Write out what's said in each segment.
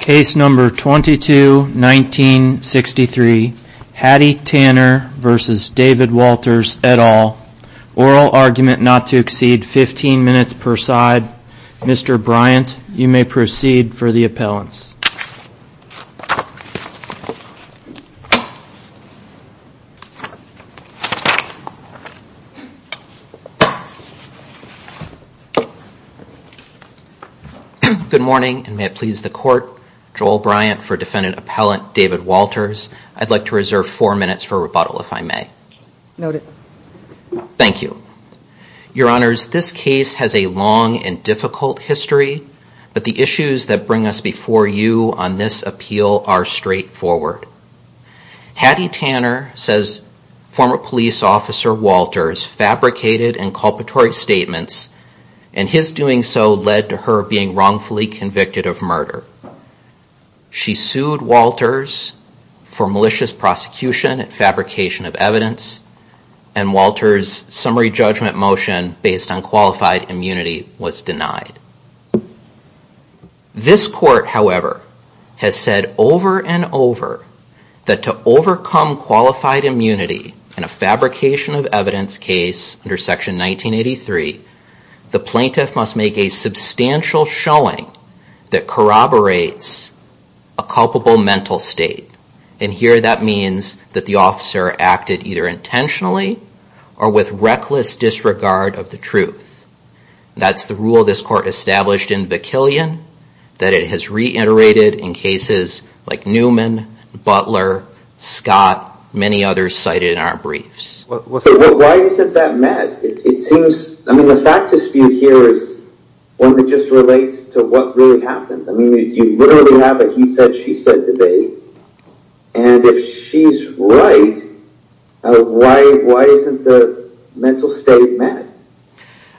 Case number 22-1963, Hattie Tanner v. David Walters, et al., oral argument not to exceed 15 minutes per side. Mr. Bryant, you may proceed for the appellants. Good morning, and may it please the court, Joel Bryant for defendant appellant David Walters. I'd like to reserve four minutes for rebuttal if I may. Noted. Thank you. Your honors, this case has a long and difficult history, but the issues that bring us before you on this appeal are straightforward. Hattie Tanner, says former police officer Walters, fabricated inculpatory statements, and his doing so led to her being wrongfully convicted of murder. She sued Walters for malicious prosecution and fabrication of evidence, and Walters' summary judgment motion based on qualified immunity was denied. This court, however, has said over and over that to overcome qualified immunity in a fabrication of evidence case under section 1983, the plaintiff must make a substantial showing that corroborates a culpable mental state, and here that means that the officer acted either intentionally or with reckless disregard of the truth. That's the rule this court established in Bakilian, that it has reiterated in cases like Newman, Butler, Scott, many others cited in our briefs. Why isn't that met? I mean, the fact dispute here is one that just relates to what really happened. I mean, you literally have a he said, she said debate, and if she's right, why isn't the mental state met?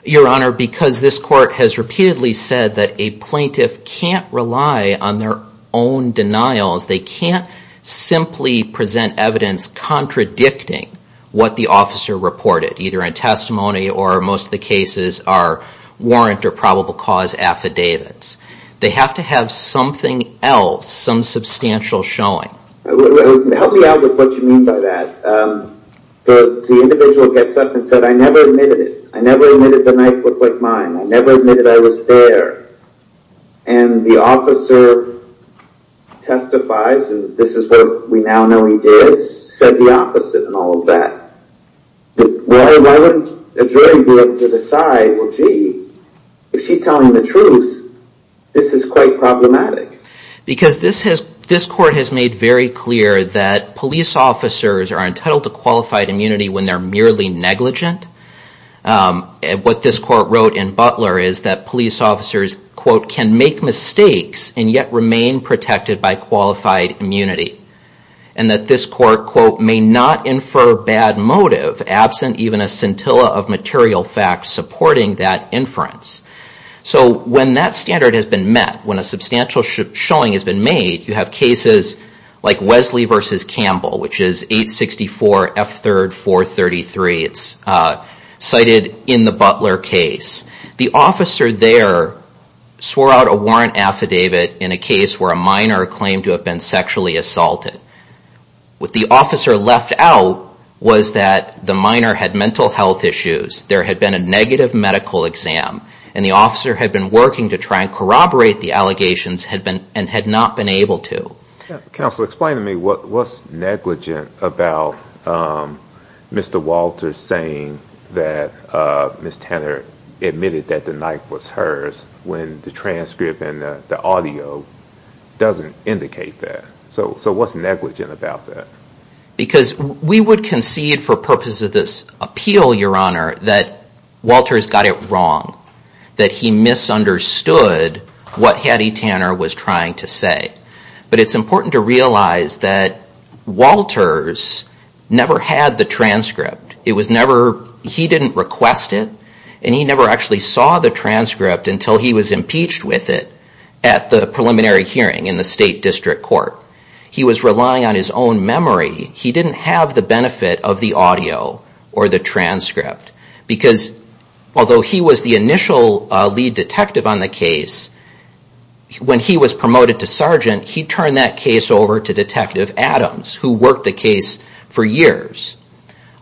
Your honor, because this court has repeatedly said that a plaintiff can't rely on their own denials, they can't simply present evidence contradicting what the officer reported, either in testimony or most of the cases are warrant or probable cause affidavits. They have to have something else, some substantial showing. Help me out with what you mean by that. The individual gets up and said, I never admitted it. I never admitted the knife looked like mine. I never admitted I was there. And the officer testifies, and this is what we now know he did, said the opposite and all of that. Why wouldn't a jury be able to decide, well, gee, if she's telling the truth, this is quite problematic. Because this court has made very clear that police officers are entitled to qualified immunity when they're merely negligent. And what this court wrote in Butler is that police officers, quote, can make mistakes and yet remain protected by qualified immunity. And that this court, quote, may not infer bad motive, absent even a scintilla of material facts supporting that inference. So when that standard has been met, when a substantial showing has been made, you have cases like Wesley v. Campbell, which is 864 F3rd 433. It's cited in the Butler case. The officer there swore out a warrant affidavit in a case where a minor claimed to have been sexually assaulted. What the officer left out was that the minor had mental health issues, there had been a negative medical exam, and the officer had been working to try and corroborate the allegations and had not been able to. Counsel, explain to me what's negligent about Mr. Walters saying that Ms. Tanner admitted that the knife was hers when the transcript and the audio doesn't indicate that. So what's negligent about that? Because we would concede for purposes of this appeal, Your Honor, that Walters got it wrong, that he misunderstood what Hattie Tanner was trying to say. But it's important to realize that Walters never had the transcript. He didn't request it, and he never actually saw the transcript until he was impeached with it at the preliminary hearing in the State District Court. He was relying on his own memory. He didn't have the benefit of the audio or the transcript. Because although he was the initial lead detective on the case, when he was promoted to sergeant, he turned that case over to Detective Adams, who worked the case for years.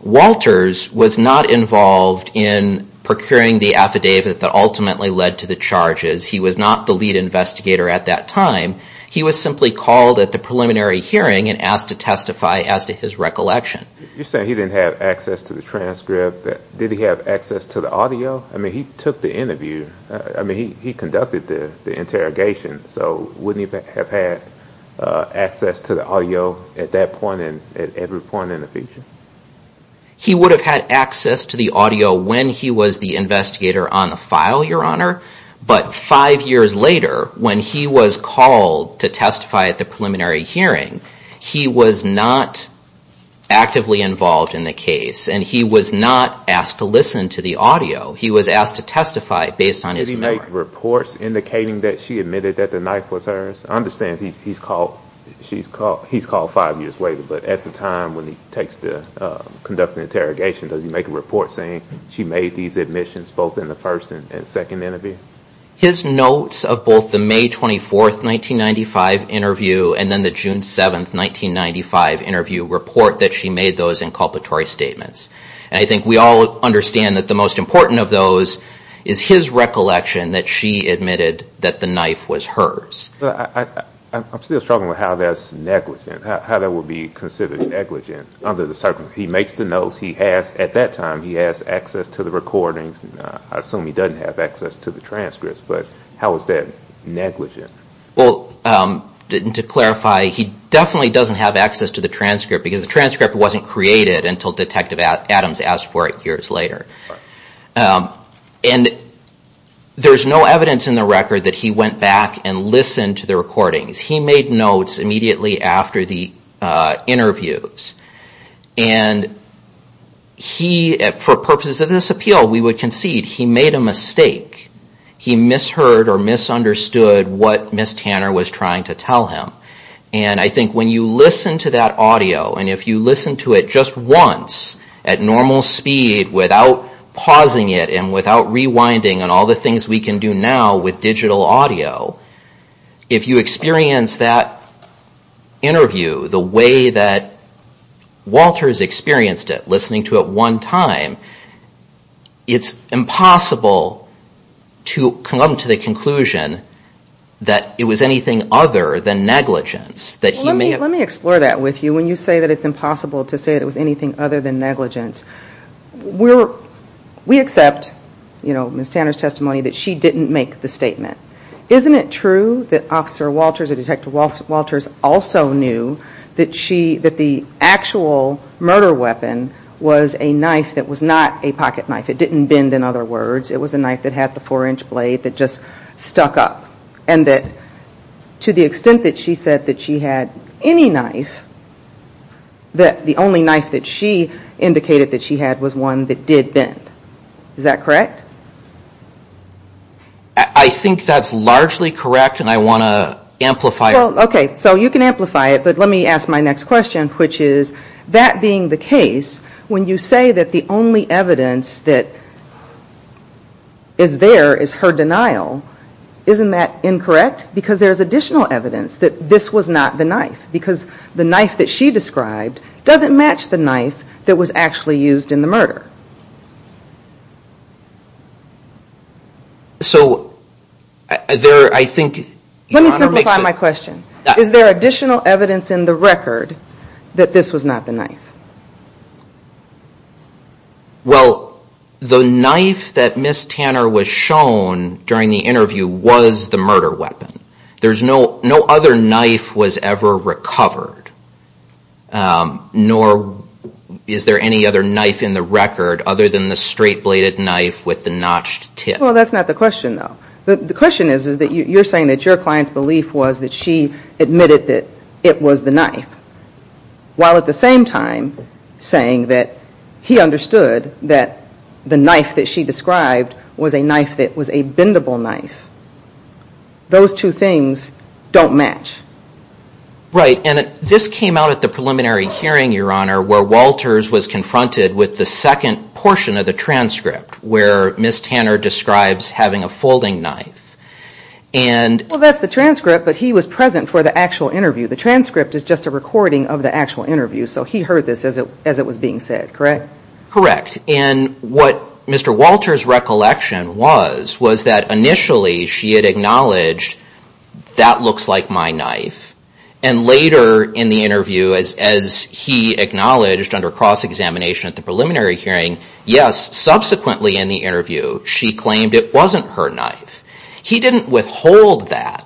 Walters was not involved in procuring the affidavit that ultimately led to the charges. He was not the lead investigator at that time. He was simply called at the preliminary hearing and asked to testify as to his recollection. You're saying he didn't have access to the transcript. Did he have access to the audio? I mean, he took the interview. I mean, he conducted the interrogation. So wouldn't he have had access to the audio at that point and at every point in the future? He would have had access to the audio when he was the investigator on the file, Your Honor. But five years later, when he was called to testify at the preliminary hearing, he was not actively involved in the case. And he was not asked to listen to the audio. He was asked to testify based on his memory. Did he make reports indicating that she admitted that the knife was hers? I understand he's called five years later. But at the time when he conducts the interrogation, does he make a report saying she made these admissions both in the first and second interview? His notes of both the May 24th, 1995 interview and then the June 7th, 1995 interview report that she made those inculpatory statements. And I think we all understand that the most important of those is his recollection that she admitted that the knife was hers. I'm still struggling with how that's negligent, how that would be considered negligent under the circumstances. He makes the notes. He has, at that time, he has access to the recordings. I assume he doesn't have access to the transcripts, but how is that negligent? Well, to clarify, he definitely doesn't have access to the transcript because the transcript wasn't created until Detective Adams asked for it years later. And there's no evidence in the record that he went back and listened to the recordings. He made notes immediately after the interviews. And he, for purposes of this appeal, we would concede he made a mistake. He misheard or misunderstood what Ms. Tanner was trying to tell him. And I think when you listen to that audio, and if you listen to it just once at normal speed without pausing it and without rewinding on all the things we can do now with digital audio, if you experience that interview, the way that Walters experienced it, listening to it one time, it's impossible to come to the conclusion that it was anything other than negligence. Let me explore that with you. When you say it's impossible to say it was anything other than negligence, we accept, you know, Ms. Tanner's testimony, that she didn't make the statement. Isn't it true that Officer Walters or Detective Walters also knew that she, that the actual murder weapon was a knife that was not a pocket knife? It didn't bend, in other words. It was a knife that had the four-inch blade that just stuck up. And that to the extent that she said that she had any knife, that the only knife that she indicated that she had was one that did bend. Is that correct? I think that's largely correct and I want to amplify it. Okay, so you can amplify it, but let me ask my next question, which is that being the case, when you say that the only evidence that is there is her denial, isn't that incorrect? Because there's additional evidence that this was not the knife. Because the knife that she described doesn't match the knife that was actually used in the murder. So there, I think... Let me simplify my question. Is there additional evidence in the record that this was not the knife? Well, the knife that Ms. Tanner was shown during the interview was the murder weapon. There's no other knife was ever recovered. Nor is there any other knife in the record other than the straight-bladed knife with the notched tip. Well, that's not the question, though. The question is that you're saying that your client's belief was that she admitted that it was the knife. While at the same time saying that he understood that the knife that she described was a knife that was a bendable knife. Those two things don't match. Right, and this came out at the preliminary hearing, Your Honor, where Walters was confronted with the second portion of the transcript where Ms. Tanner describes having a folding knife. Well, that's the transcript, but he was present for the actual interview. The transcript is just a recording of the actual interview, so he heard this as it was being said, correct? Correct. And what Mr. Walters' recollection was, was that initially she had acknowledged, that looks like my knife. And later in the interview, as he acknowledged under cross-examination at the preliminary hearing, yes, subsequently in the interview, she claimed it wasn't her knife. He didn't withhold that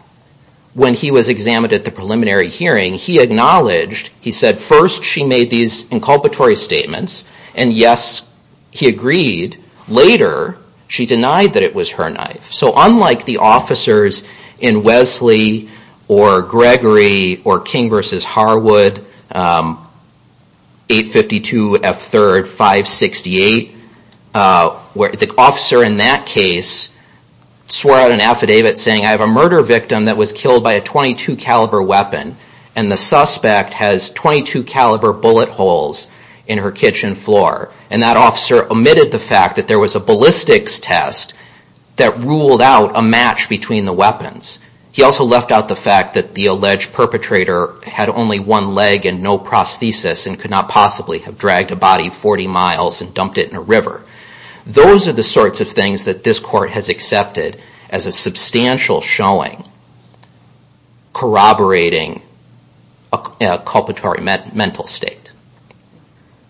when he was examined at the preliminary hearing. He acknowledged, he said first she made these inculpatory statements, and yes, he agreed. Later, she denied that it was her knife. So unlike the officers in Wesley or Gregory or King v. Harwood, 852 F3rd 568, where the officer in that case swore out an affidavit saying I have a murder victim that was killed by a .22 caliber weapon, and the suspect has .22 caliber bullet holes in her kitchen floor. And that officer omitted the fact that there was a ballistics test that ruled out a match between the weapons. He also left out the fact that the alleged perpetrator had only one leg and no prosthesis, and could not possibly have dragged a body 40 miles and dumped it in a river. Those are the sorts of things that this court has accepted as a substantial showing corroborating the evidence. It's not an inculpatory mental state.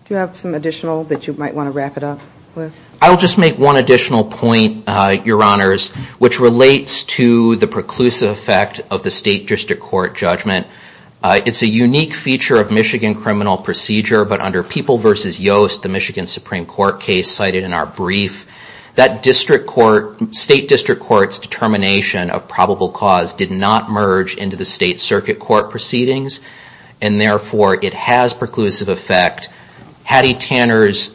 Do you have some additional that you might want to wrap it up with? I'll just make one additional point, Your Honors, which relates to the preclusive effect of the State District Court judgment. It's a unique feature of Michigan criminal procedure, but under People v. Yost, the Michigan Supreme Court case cited in our brief, that State District Court's determination of probable cause did not merge into the State Circuit Court proceedings, and therefore it has preclusive effect. Hattie Tanner's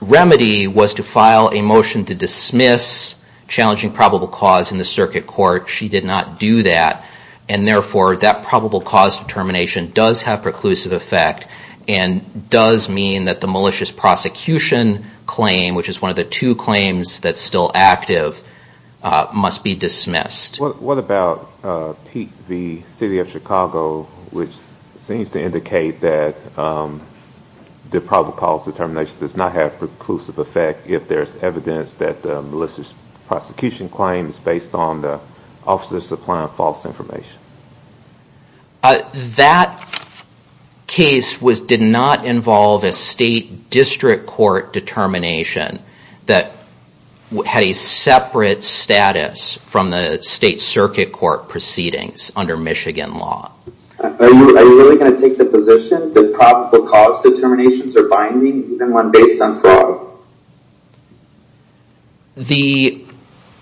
remedy was to file a motion to dismiss challenging probable cause in the Circuit Court. She did not do that, and therefore that probable cause determination does have preclusive effect, and does mean that the malicious prosecution claim, which is one of the two claims that's still active, must be dismissed. What about Pete v. City of Chicago, which seems to indicate that the probable cause determination does not have preclusive effect if there's evidence that the malicious prosecution claim is based on the officers supplying false information? That case did not involve a State District Court determination that had a separate status from the State Circuit Court proceedings under Michigan law. Are you really going to take the position that probable cause determinations are binding, even when based on fraud? The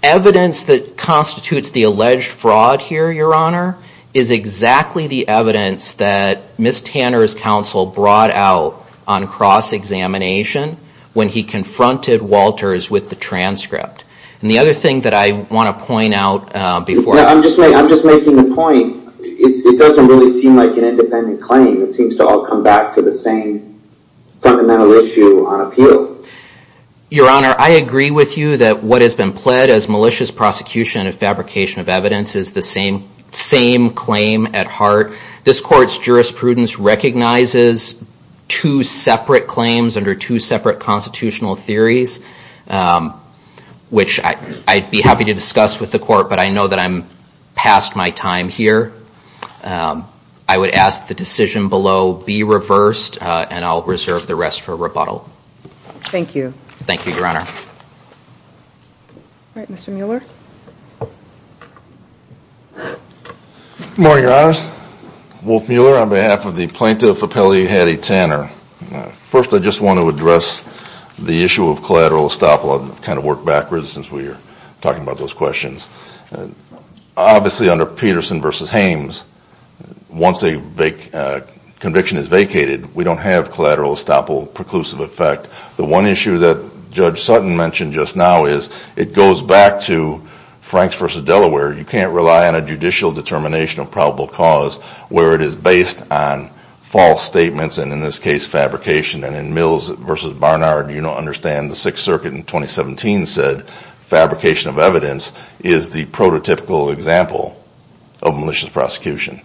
evidence that constitutes the alleged fraud here, Your Honor, is exactly the evidence that Ms. Tanner's counsel brought out on cross-examination when he confronted Walters with the transcript. And the other thing that I want to point out before... I'm just making the point, it doesn't really seem like an independent claim. It seems to all come back to the same fundamental issue on appeal. Your Honor, I agree with you that what has been pled as malicious prosecution and fabrication of evidence is the same claim at heart. This Court's jurisprudence recognizes two separate claims under two separate constitutional theories, which I'd be happy to discuss with the Court, but I know that I'm past my time here. I would ask the decision below be reversed, and I'll reserve the rest for rebuttal. Thank you. Thank you, Your Honor. Good morning, Your Honors. Wolf Mueller on behalf of the Plaintiff Appellee Hattie Tanner. First, I just want to address the issue of collateral estoppel. I've kind of worked backwards since we were talking about those questions. Obviously, under Peterson v. Hames, once a conviction is vacated, we don't have collateral estoppel, preclusive effect. The one issue that Judge Sutton mentioned just now is it goes back to Franks v. Delaware. You can't rely on a judicial determination of probable cause where it is based on false statements, and in this case, false statements are a case fabrication, and in Mills v. Barnard, you don't understand. The Sixth Circuit in 2017 said fabrication of evidence is the prototypical example of malicious prosecution.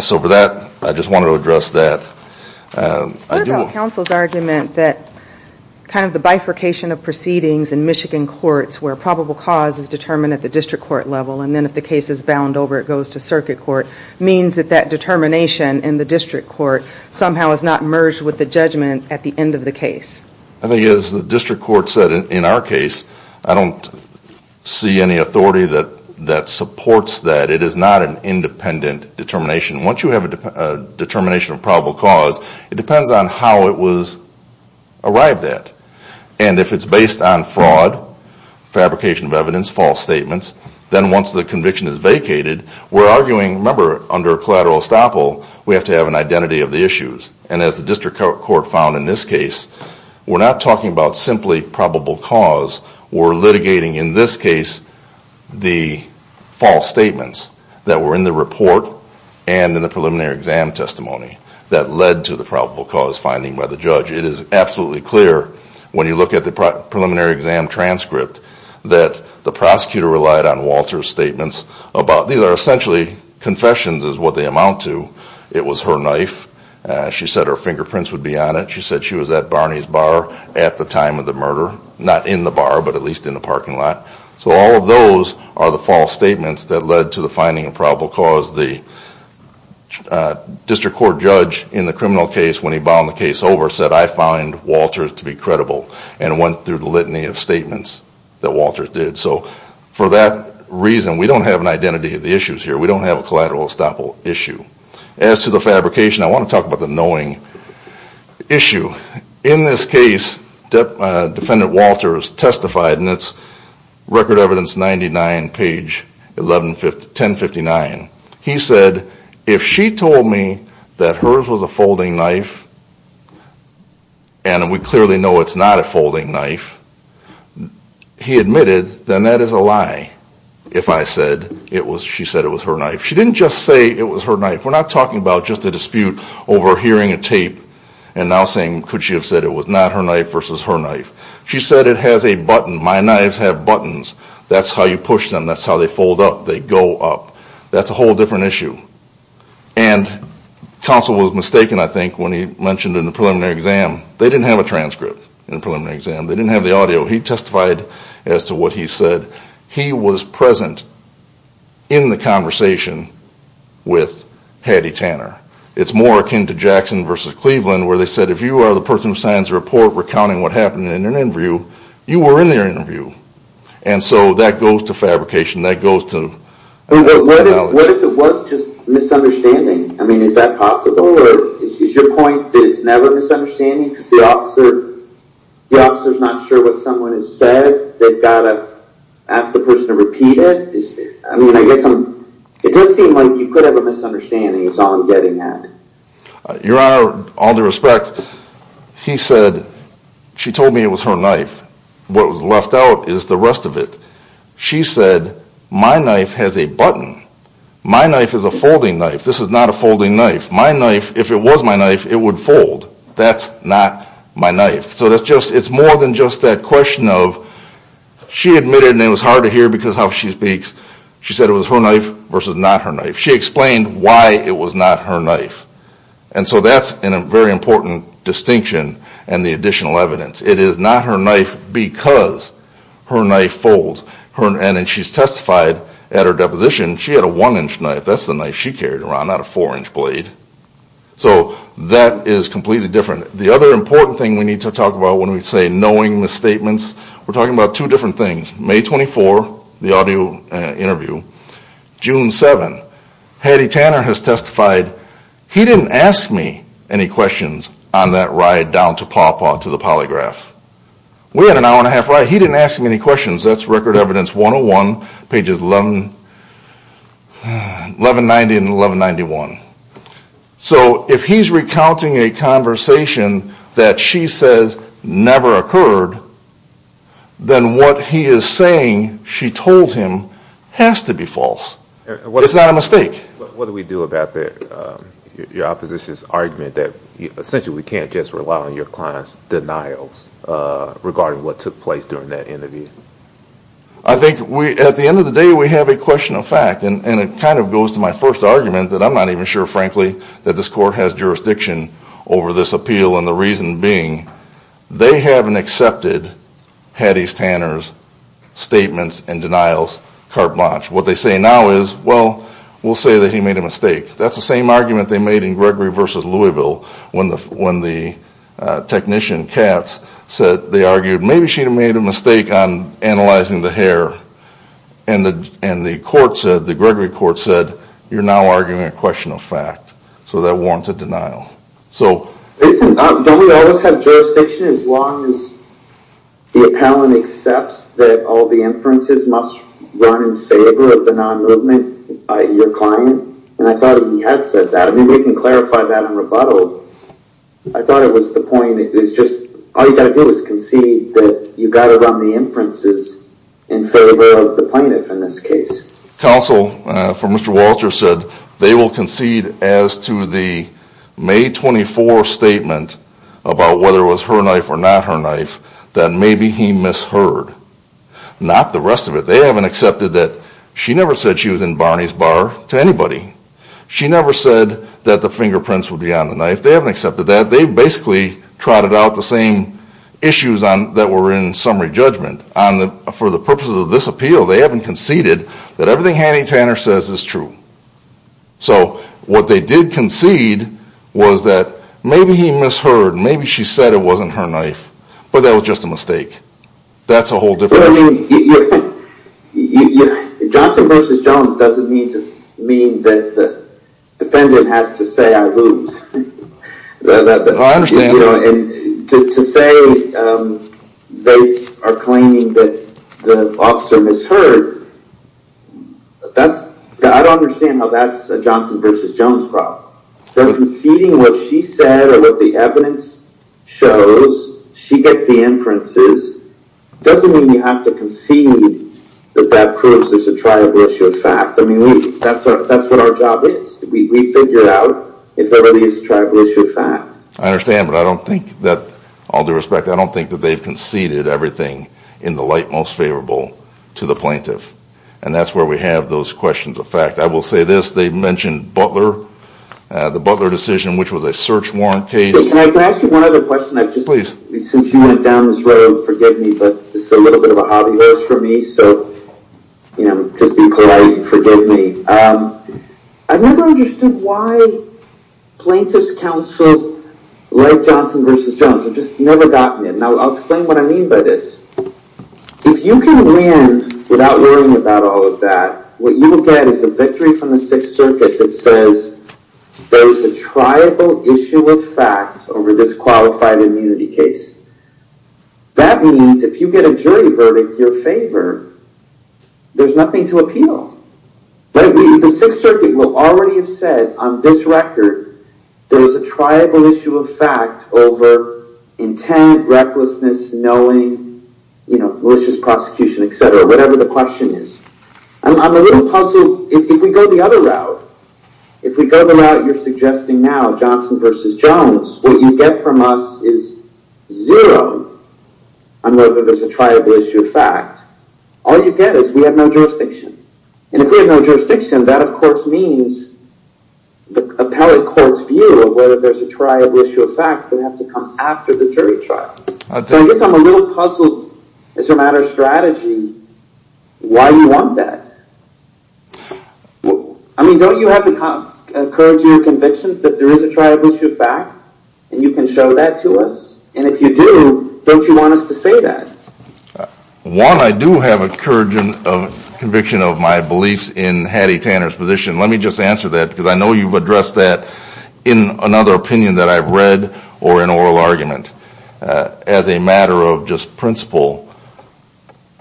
So for that, I just wanted to address that. What about counsel's argument that kind of the bifurcation of proceedings in Michigan courts where probable cause is determined at the district court level, and then if the case is bound over, it goes to circuit court, means that that determination in the district court somehow is not merged with the judgment at the end of the case? I think as the district court said in our case, I don't see any authority that supports that. It is not an independent determination. Once you have a determination of probable cause, it depends on how it was arrived at. And if it's based on fraud, fabrication of evidence, false statements, then once the conviction is vacated, we're arguing, remember, under collateral estoppel, we have to have an identity of the issues. And as the district court found in this case, we're not talking about simply probable cause. We're litigating in this case the false statements that were in the report and in the preliminary exam testimony that led to the probable cause finding by the judge. It is absolutely clear when you look at the preliminary exam transcript that the prosecutor relied on Walter's statements about, these are essentially confessions is what they amount to. It was her knife. She said her fingerprints would be on it. She said she was at Barney's Bar at the time of the murder. Not in the bar, but at least in the parking lot. So all of those are the false statements that led to the finding of probable cause. The district court judge in the criminal case when he bound the case over said, I find Walter to be credible. And went through the litany of statements that Walter did. So for that reason, we don't have an identity of the issues here. We don't have a collateral estoppel issue. As to the fabrication, I want to talk about the knowing issue. In this case, Defendant Walter has testified, and it's Record Evidence 99, page 1059. He said, if she told me that hers was a folding knife, and we clearly know it's not a folding knife, he admitted, then that is a lie. If I said she said it was her knife. She didn't just say it was her knife. We're not talking about just a dispute over hearing a tape and now saying could she have said it was not her knife versus her knife. She said it has a button. My knives have buttons. That's how you push them. That's how they fold up. They go up. That's a whole different issue. And counsel was mistaken, I think, when he mentioned in the preliminary exam. They didn't have a transcript in the preliminary exam. They didn't have the audio. He testified as to what he said. He was present in the conversation with Hattie Tanner. It's more akin to Jackson versus Cleveland where they said if you are the person who signs the report recounting what happened in an interview, you were in their interview. And so that goes to fabrication. That goes to... What if it was just misunderstanding? I mean, is that possible? Is your point that it's never a misunderstanding because the officer is not sure what someone has said? They've got to ask the person to repeat it? It does seem like you could have a misunderstanding is all I'm getting at. Your Honor, all due respect, he said she told me it was her knife. What was left out is the rest of it. She said my knife has a button. My knife is a folding knife. This is not a folding knife. My knife, if it was my knife, it would fold. That's not my knife. So it's more than just that question of she admitted, and it was hard to hear because of how she speaks, she said it was her knife versus not her knife. She explained why it was not her knife. And so that's a very important distinction and the additional evidence. It is not her knife because her knife folds. And she's testified at her deposition she had a one-inch knife. That's the knife she carried around, not a four-inch blade. So that is completely different. The other important thing we need to talk about when we say knowing the statements, we're talking about two different things. May 24, the audio interview, June 7, Hattie Tanner has testified, he didn't ask me any questions on that ride down to Paw Paw to the polygraph. We had an hour and a half ride. He didn't ask me any questions. That's Record Evidence 101, pages 1190 and 1191. So if he's recounting a conversation that she says never occurred, then what he is saying she told him has to be false. It's not a mistake. What do we do about your opposition's argument that essentially we can't just rely on your client's denials regarding what took place during that interview? I think at the end of the day we have a question of fact, and it kind of goes to my first argument that I'm not even sure, frankly, that this court has jurisdiction over this appeal, and the reason being, they haven't accepted Hattie Tanner's statements and denials carte blanche. What they say now is, well, we'll say that he made a mistake. That's the same argument they made in Gregory v. Louisville when the technician Katz said, they argued, maybe she made a mistake on analyzing the hair. And the court said, the Gregory court said, you're now arguing a question of fact. So that warrants a denial. Don't we always have jurisdiction as long as the appellant accepts that all the inferences must run in favor of the non-movement, your client? And I thought he had said that. Maybe we can clarify that in rebuttal. I thought it was the point, it's just, all you've got to do is concede that you got it on the inferences in favor of the plaintiff in this case. Counsel for Mr. Walter said they will concede as to the May 24 statement about whether it was her knife or not her knife, that maybe he misheard. Not the rest of it. They haven't accepted that she never said she was in Barney's bar to anybody. She never said that the fingerprints would be on the knife. They haven't accepted that. They basically trotted out the same issues that were in summary judgment. For the purposes of this appeal, they haven't conceded that everything Hanny Tanner says is true. So what they did concede was that maybe he misheard. Maybe she said it wasn't her knife. But that was just a mistake. That's a whole different issue. Johnson v. Jones doesn't mean that the defendant has to say I moved. To say they are claiming that the officer misheard, I don't understand how that's a Johnson v. Jones problem. Conceding what she said or what the evidence shows, she gets the inferences, doesn't mean you have to concede that that proves there's a tribal issue of fact. That's what our job is. We figure out if there really is a tribal issue of fact. I understand, but I don't think that, all due respect, I don't think that they've conceded everything in the light most favorable to the plaintiff. And that's where we have those questions of fact. I will say this, they mentioned Butler, the Butler decision, which was a search warrant case. Can I ask you one other question? Since you went down this road, forgive me, but this is a little bit of a hobby horse for me, so just be polite and forgive me. I've never understood why plaintiff's counsel led Johnson v. Jones. I've just never gotten it. Now I'll explain what I mean by this. If you can win without worrying about all of that, what you will get is a victory from the Sixth Circuit that says there is a tribal issue of fact over this qualified immunity case. That means if you get a jury verdict in your favor, there's nothing to appeal. The Sixth Circuit will already have said on this record there is a tribal issue of fact over intent, recklessness, knowing, malicious prosecution, etc., whatever the question is. I'm a little puzzled. If we go the other route, if we go the route you're suggesting now, Johnson v. Jones, what you get from us is zero on whether there's a tribal issue of fact. All you get is we have no jurisdiction. And if we have no jurisdiction, that of course means the appellate court's view of whether there's a tribal issue of fact would have to come after the jury trial. So I guess I'm a little puzzled as a matter of strategy why you want that. I mean, don't you have the courage in your convictions that there is a tribal issue of fact and you can show that to us? And if you do, don't you want us to say that? One, I do have a conviction of my beliefs in Hattie Tanner's position. Let me just answer that because I know you've addressed that in another opinion that I've read or an oral argument. As a matter of just principle,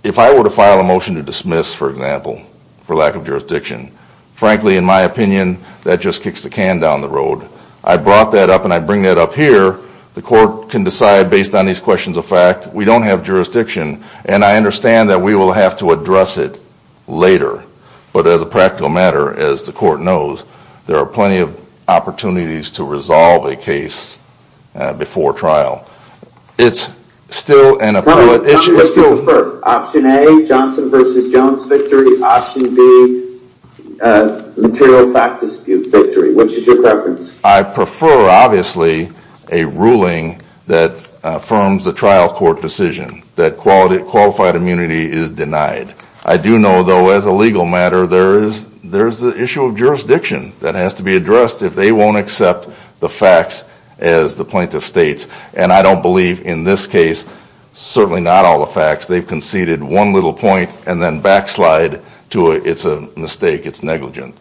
if I were to file a motion to dismiss, for example, for lack of jurisdiction, frankly, in my opinion, that just kicks the can down the road. I brought that up and I bring that up here. The court can decide based on these questions of fact. We don't have jurisdiction. And I understand that we will have to address it later. But as a practical matter, as the court knows, there are plenty of opportunities to resolve a case before trial. It's still an appellate issue. Option A, Johnson v. Jones victory. Option B, material fact dispute victory. Which is your preference? I prefer, obviously, a ruling that affirms the trial court decision, that qualified immunity is denied. I do know, though, as a legal matter, there is the issue of jurisdiction that has to be addressed if they won't accept the facts as the plaintiff states. And I don't believe in this case, certainly not all the facts. They've conceded one little point and then backslide to it's a mistake, it's negligent.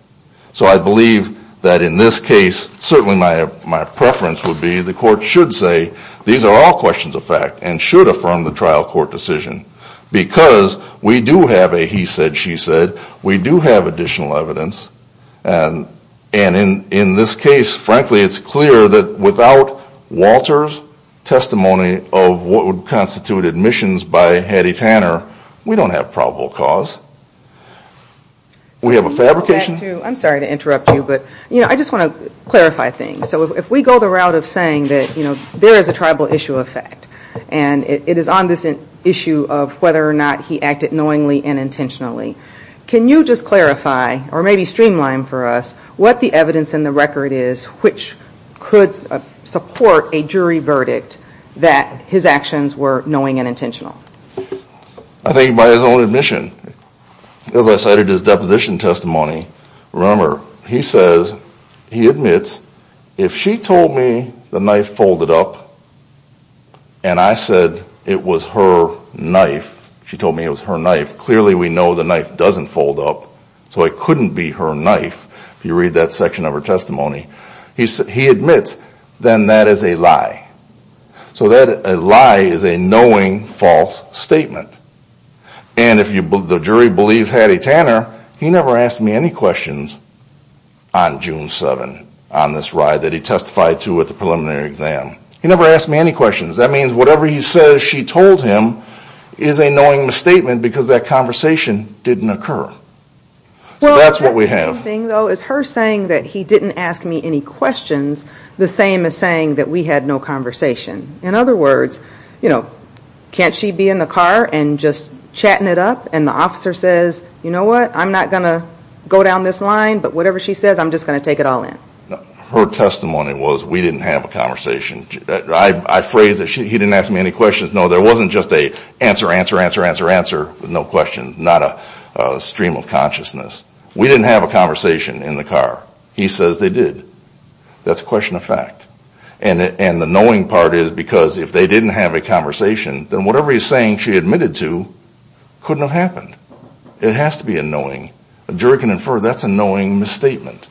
So I believe that in this case, certainly my preference would be the court should say these are all questions of fact and should affirm the trial court decision. Because we do have a he said, she said. We do have additional evidence. And in this case, frankly, it's clear that without Walter's testimony of what would constitute admissions by Hattie Tanner, we don't have probable cause. We have a fabrication. I'm sorry to interrupt you, but I just want to clarify things. So if we go the route of saying that there is a tribal issue of fact. And it is on this issue of whether or not he acted knowingly and intentionally. Can you just clarify, or maybe streamline for us, what the evidence in the record is which could support a jury verdict that his actions were knowing and intentional? I think by his own admission, as I cited his deposition testimony. Remember, he says, he admits, if she told me the knife folded up and I said it was her knife, she told me it was her knife, clearly we know the knife doesn't fold up. So it couldn't be her knife, if you read that section of her testimony. He admits, then that is a lie. So that lie is a knowing false statement. And if the jury believes Hattie Tanner, he never asked me any questions on June 7th on this ride that he testified to at the preliminary exam. He never asked me any questions. That means whatever he says she told him is a knowing statement because that conversation didn't occur. So that's what we have. Is her saying that he didn't ask me any questions the same as saying that we had no conversation? In other words, can't she be in the car and just chatting it up and the officer says, you know what, I'm not going to go down this line, but whatever she says, I'm just going to take it all in. Her testimony was we didn't have a conversation. I phrased that he didn't ask me any questions. No, there wasn't just a answer, answer, answer, answer, answer, no question. Not a stream of consciousness. We didn't have a conversation in the car. He says they did. That's a question of fact. And the knowing part is because if they didn't have a conversation, then whatever he's saying she admitted to couldn't have happened. It has to be a knowing. A jury can infer that's a knowing misstatement.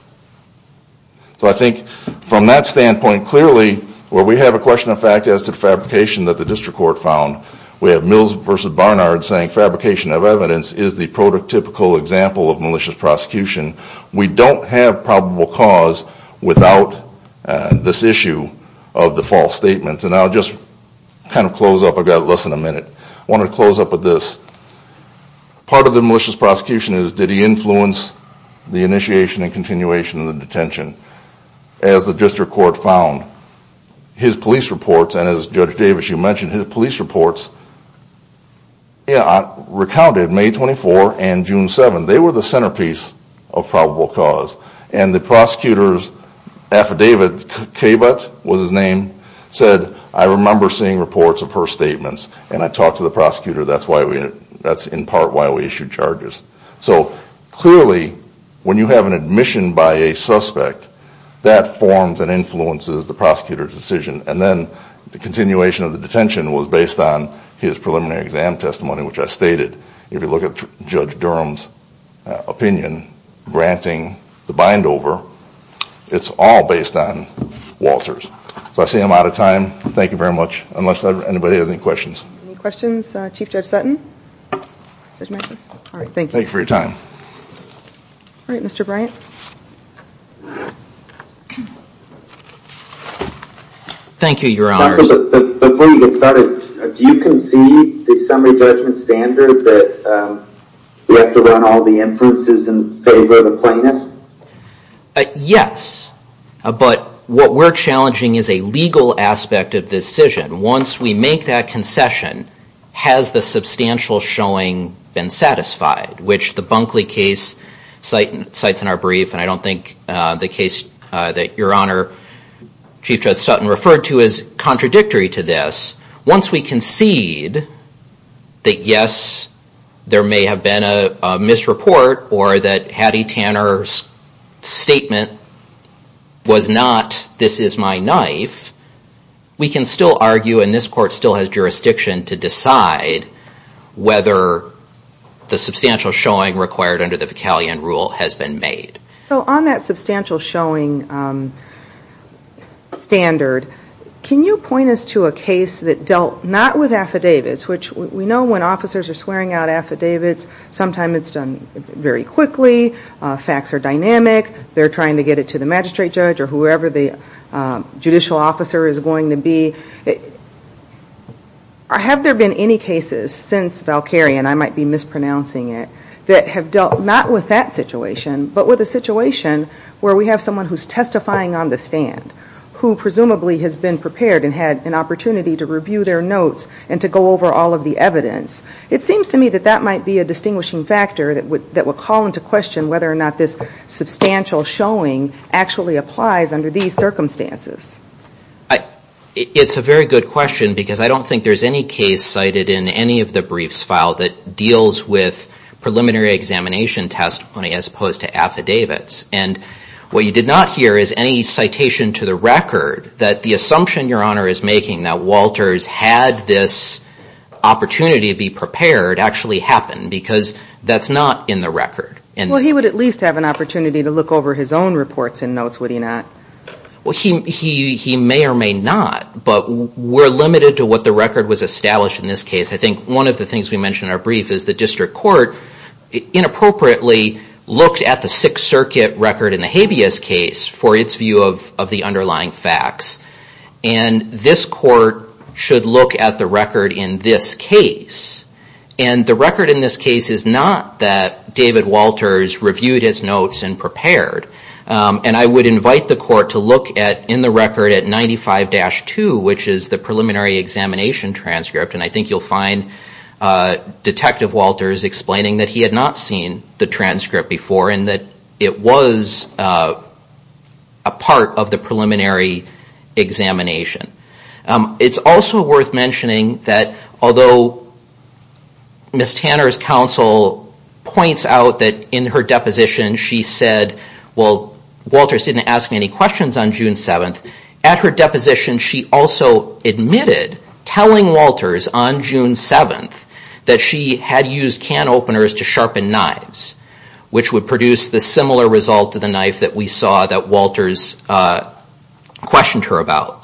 So I think from that standpoint, clearly where we have a question of fact as to fabrication that the district court found, we have Mills versus Barnard saying fabrication of evidence is the prototypical example of malicious prosecution. We don't have probable cause without this issue of the false statements. And I'll just kind of close up. I've got less than a minute. I wanted to close up with this. Part of the malicious prosecution is did he influence the initiation and continuation of the detention? As the district court found, his police reports, and as Judge Davis, you mentioned, his police reports recounted May 24 and June 7. They were the centerpiece of probable cause. And the prosecutor's affidavit, Cabot was his name, said I remember seeing reports of her statements. And I talked to the prosecutor. That's in part why we issued charges. So clearly when you have an admission by a suspect, that forms and influences the prosecutor's decision. And then the continuation of the detention was based on his preliminary exam testimony, which I stated. If you look at Judge Durham's opinion, granting the bind over, it's all based on Walters. So I say I'm out of time. Thank you very much. Unless anybody has any questions. Any questions? Chief Judge Sutton? Judge Matthews? Thank you for your time. All right, Mr. Bryant. Thank you, Your Honors. Before you get started, do you concede the summary judgment standard that we have to run all the influences in favor of the plaintiff? Yes, but what we're challenging is a legal aspect of this decision. Once we make that concession, has the substantial showing been satisfied, which the Bunkley case cites in our brief. And I don't think the case that Your Honor, Chief Judge Sutton, referred to is contradictory to this. Once we concede that, yes, there may have been a misreport or that Hattie Tanner's claim or Hattie Tanner's statement was not this is my knife, we can still argue, and this court still has jurisdiction to decide whether the substantial showing required under the Pecalion rule has been made. So on that substantial showing standard, can you point us to a case that dealt not with affidavits, which we know when officers are swearing out affidavits, sometimes it's done very quickly. They're trying to get it to the magistrate judge or whoever the judicial officer is going to be. Have there been any cases since Valkyrie, and I might be mispronouncing it, that have dealt not with that situation, but with a situation where we have someone who's testifying on the stand, who presumably has been prepared and had an opportunity to review their notes and to go over all of the evidence. It seems to me that that might be a distinguishing factor that would call into question whether or not this substantial showing actually applies under these circumstances. It's a very good question, because I don't think there's any case cited in any of the briefs file that deals with preliminary examination testimony as opposed to affidavits. And what you did not hear is any citation to the record that the assumption Your Honor is making that Walters had this opportunity to be prepared actually happened, because that's not in the record. Well, he would at least have an opportunity to look over his own reports and notes, would he not? Well, he may or may not, but we're limited to what the record was established in this case. I think one of the things we mentioned in our brief is the district court inappropriately looked at the Sixth Circuit record in the habeas case for its view of the underlying facts. And this court should look at the record in this case. And the record in this case is not that David Walters reviewed his notes and prepared. And I would invite the court to look in the record at 95-2, which is the preliminary examination transcript. And I think you'll find Detective Walters explaining that he had not seen the transcript before and that it was a part of the preliminary examination. It's also worth mentioning that although Ms. Tanner's counsel points out that in her deposition she said, well, Walters didn't ask any questions on June 7th, at her deposition she also admitted telling Walters on June 7th that she had used can openers to sharpen knives, which would produce the similar result to the knife that we saw that Walters questioned her about.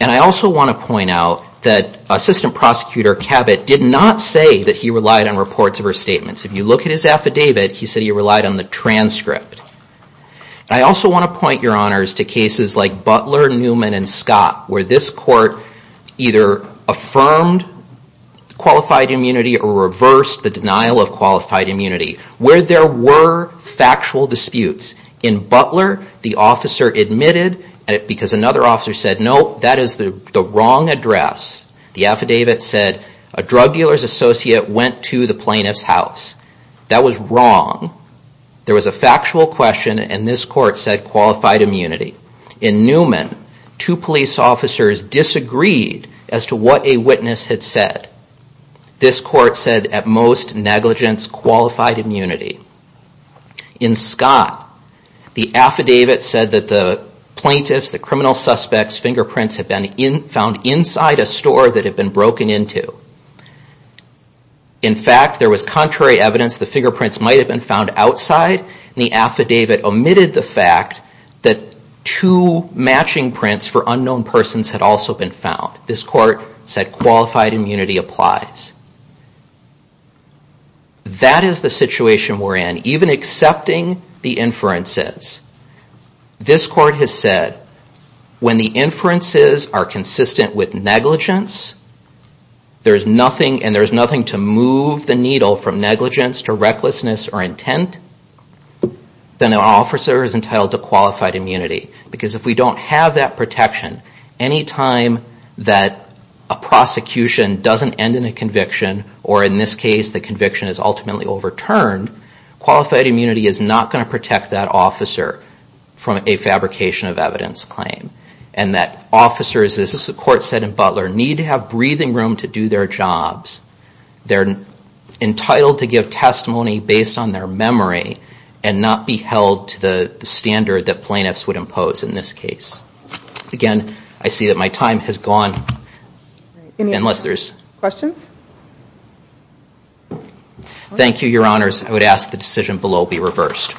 And I also want to point out that Assistant Prosecutor Cabot did not say that he relied on reports of her statements. If you look at his affidavit, he said he relied on the transcript. I also want to point, Your Honors, to cases like Butler, Newman, and Scott, where this court either affirmed qualified immunity or reversed the denial of qualified immunity, where there were factual disputes. In Butler, the officer admitted, because another officer said, no, that is the wrong address. The affidavit said, a drug dealer's associate went to the plaintiff's house. That was wrong. There was a factual question and this court said qualified immunity. In Newman, two police officers disagreed as to what a witness had said. This court said, at most, negligence, qualified immunity. In Scott, the affidavit said that the plaintiff's, the criminal suspect's fingerprints had been found inside a store that had been broken into. In fact, there was contrary evidence the fingerprints might have been found outside, and the affidavit omitted the fact that two matching prints for unknown persons had also been found. This court said qualified immunity applies. That is the situation we're in, even accepting the inferences. This court has said, when the inferences are consistent with negligence, and there's nothing to move the needle from negligence to recklessness or intent, then an officer is entitled to qualified immunity. Because if we don't have that protection, any time that a prosecution doesn't end in a conviction, or in this case the conviction is ultimately overturned, qualified immunity is not going to protect that officer from a fabrication of evidence claim. And that officers, as the court said in Butler, need to have breathing room to do their jobs. They're entitled to give testimony based on their memory and not be held to the standard that plaintiffs would impose. Again, I see that my time has gone. Thank you, your honors. I would ask the decision below be reversed.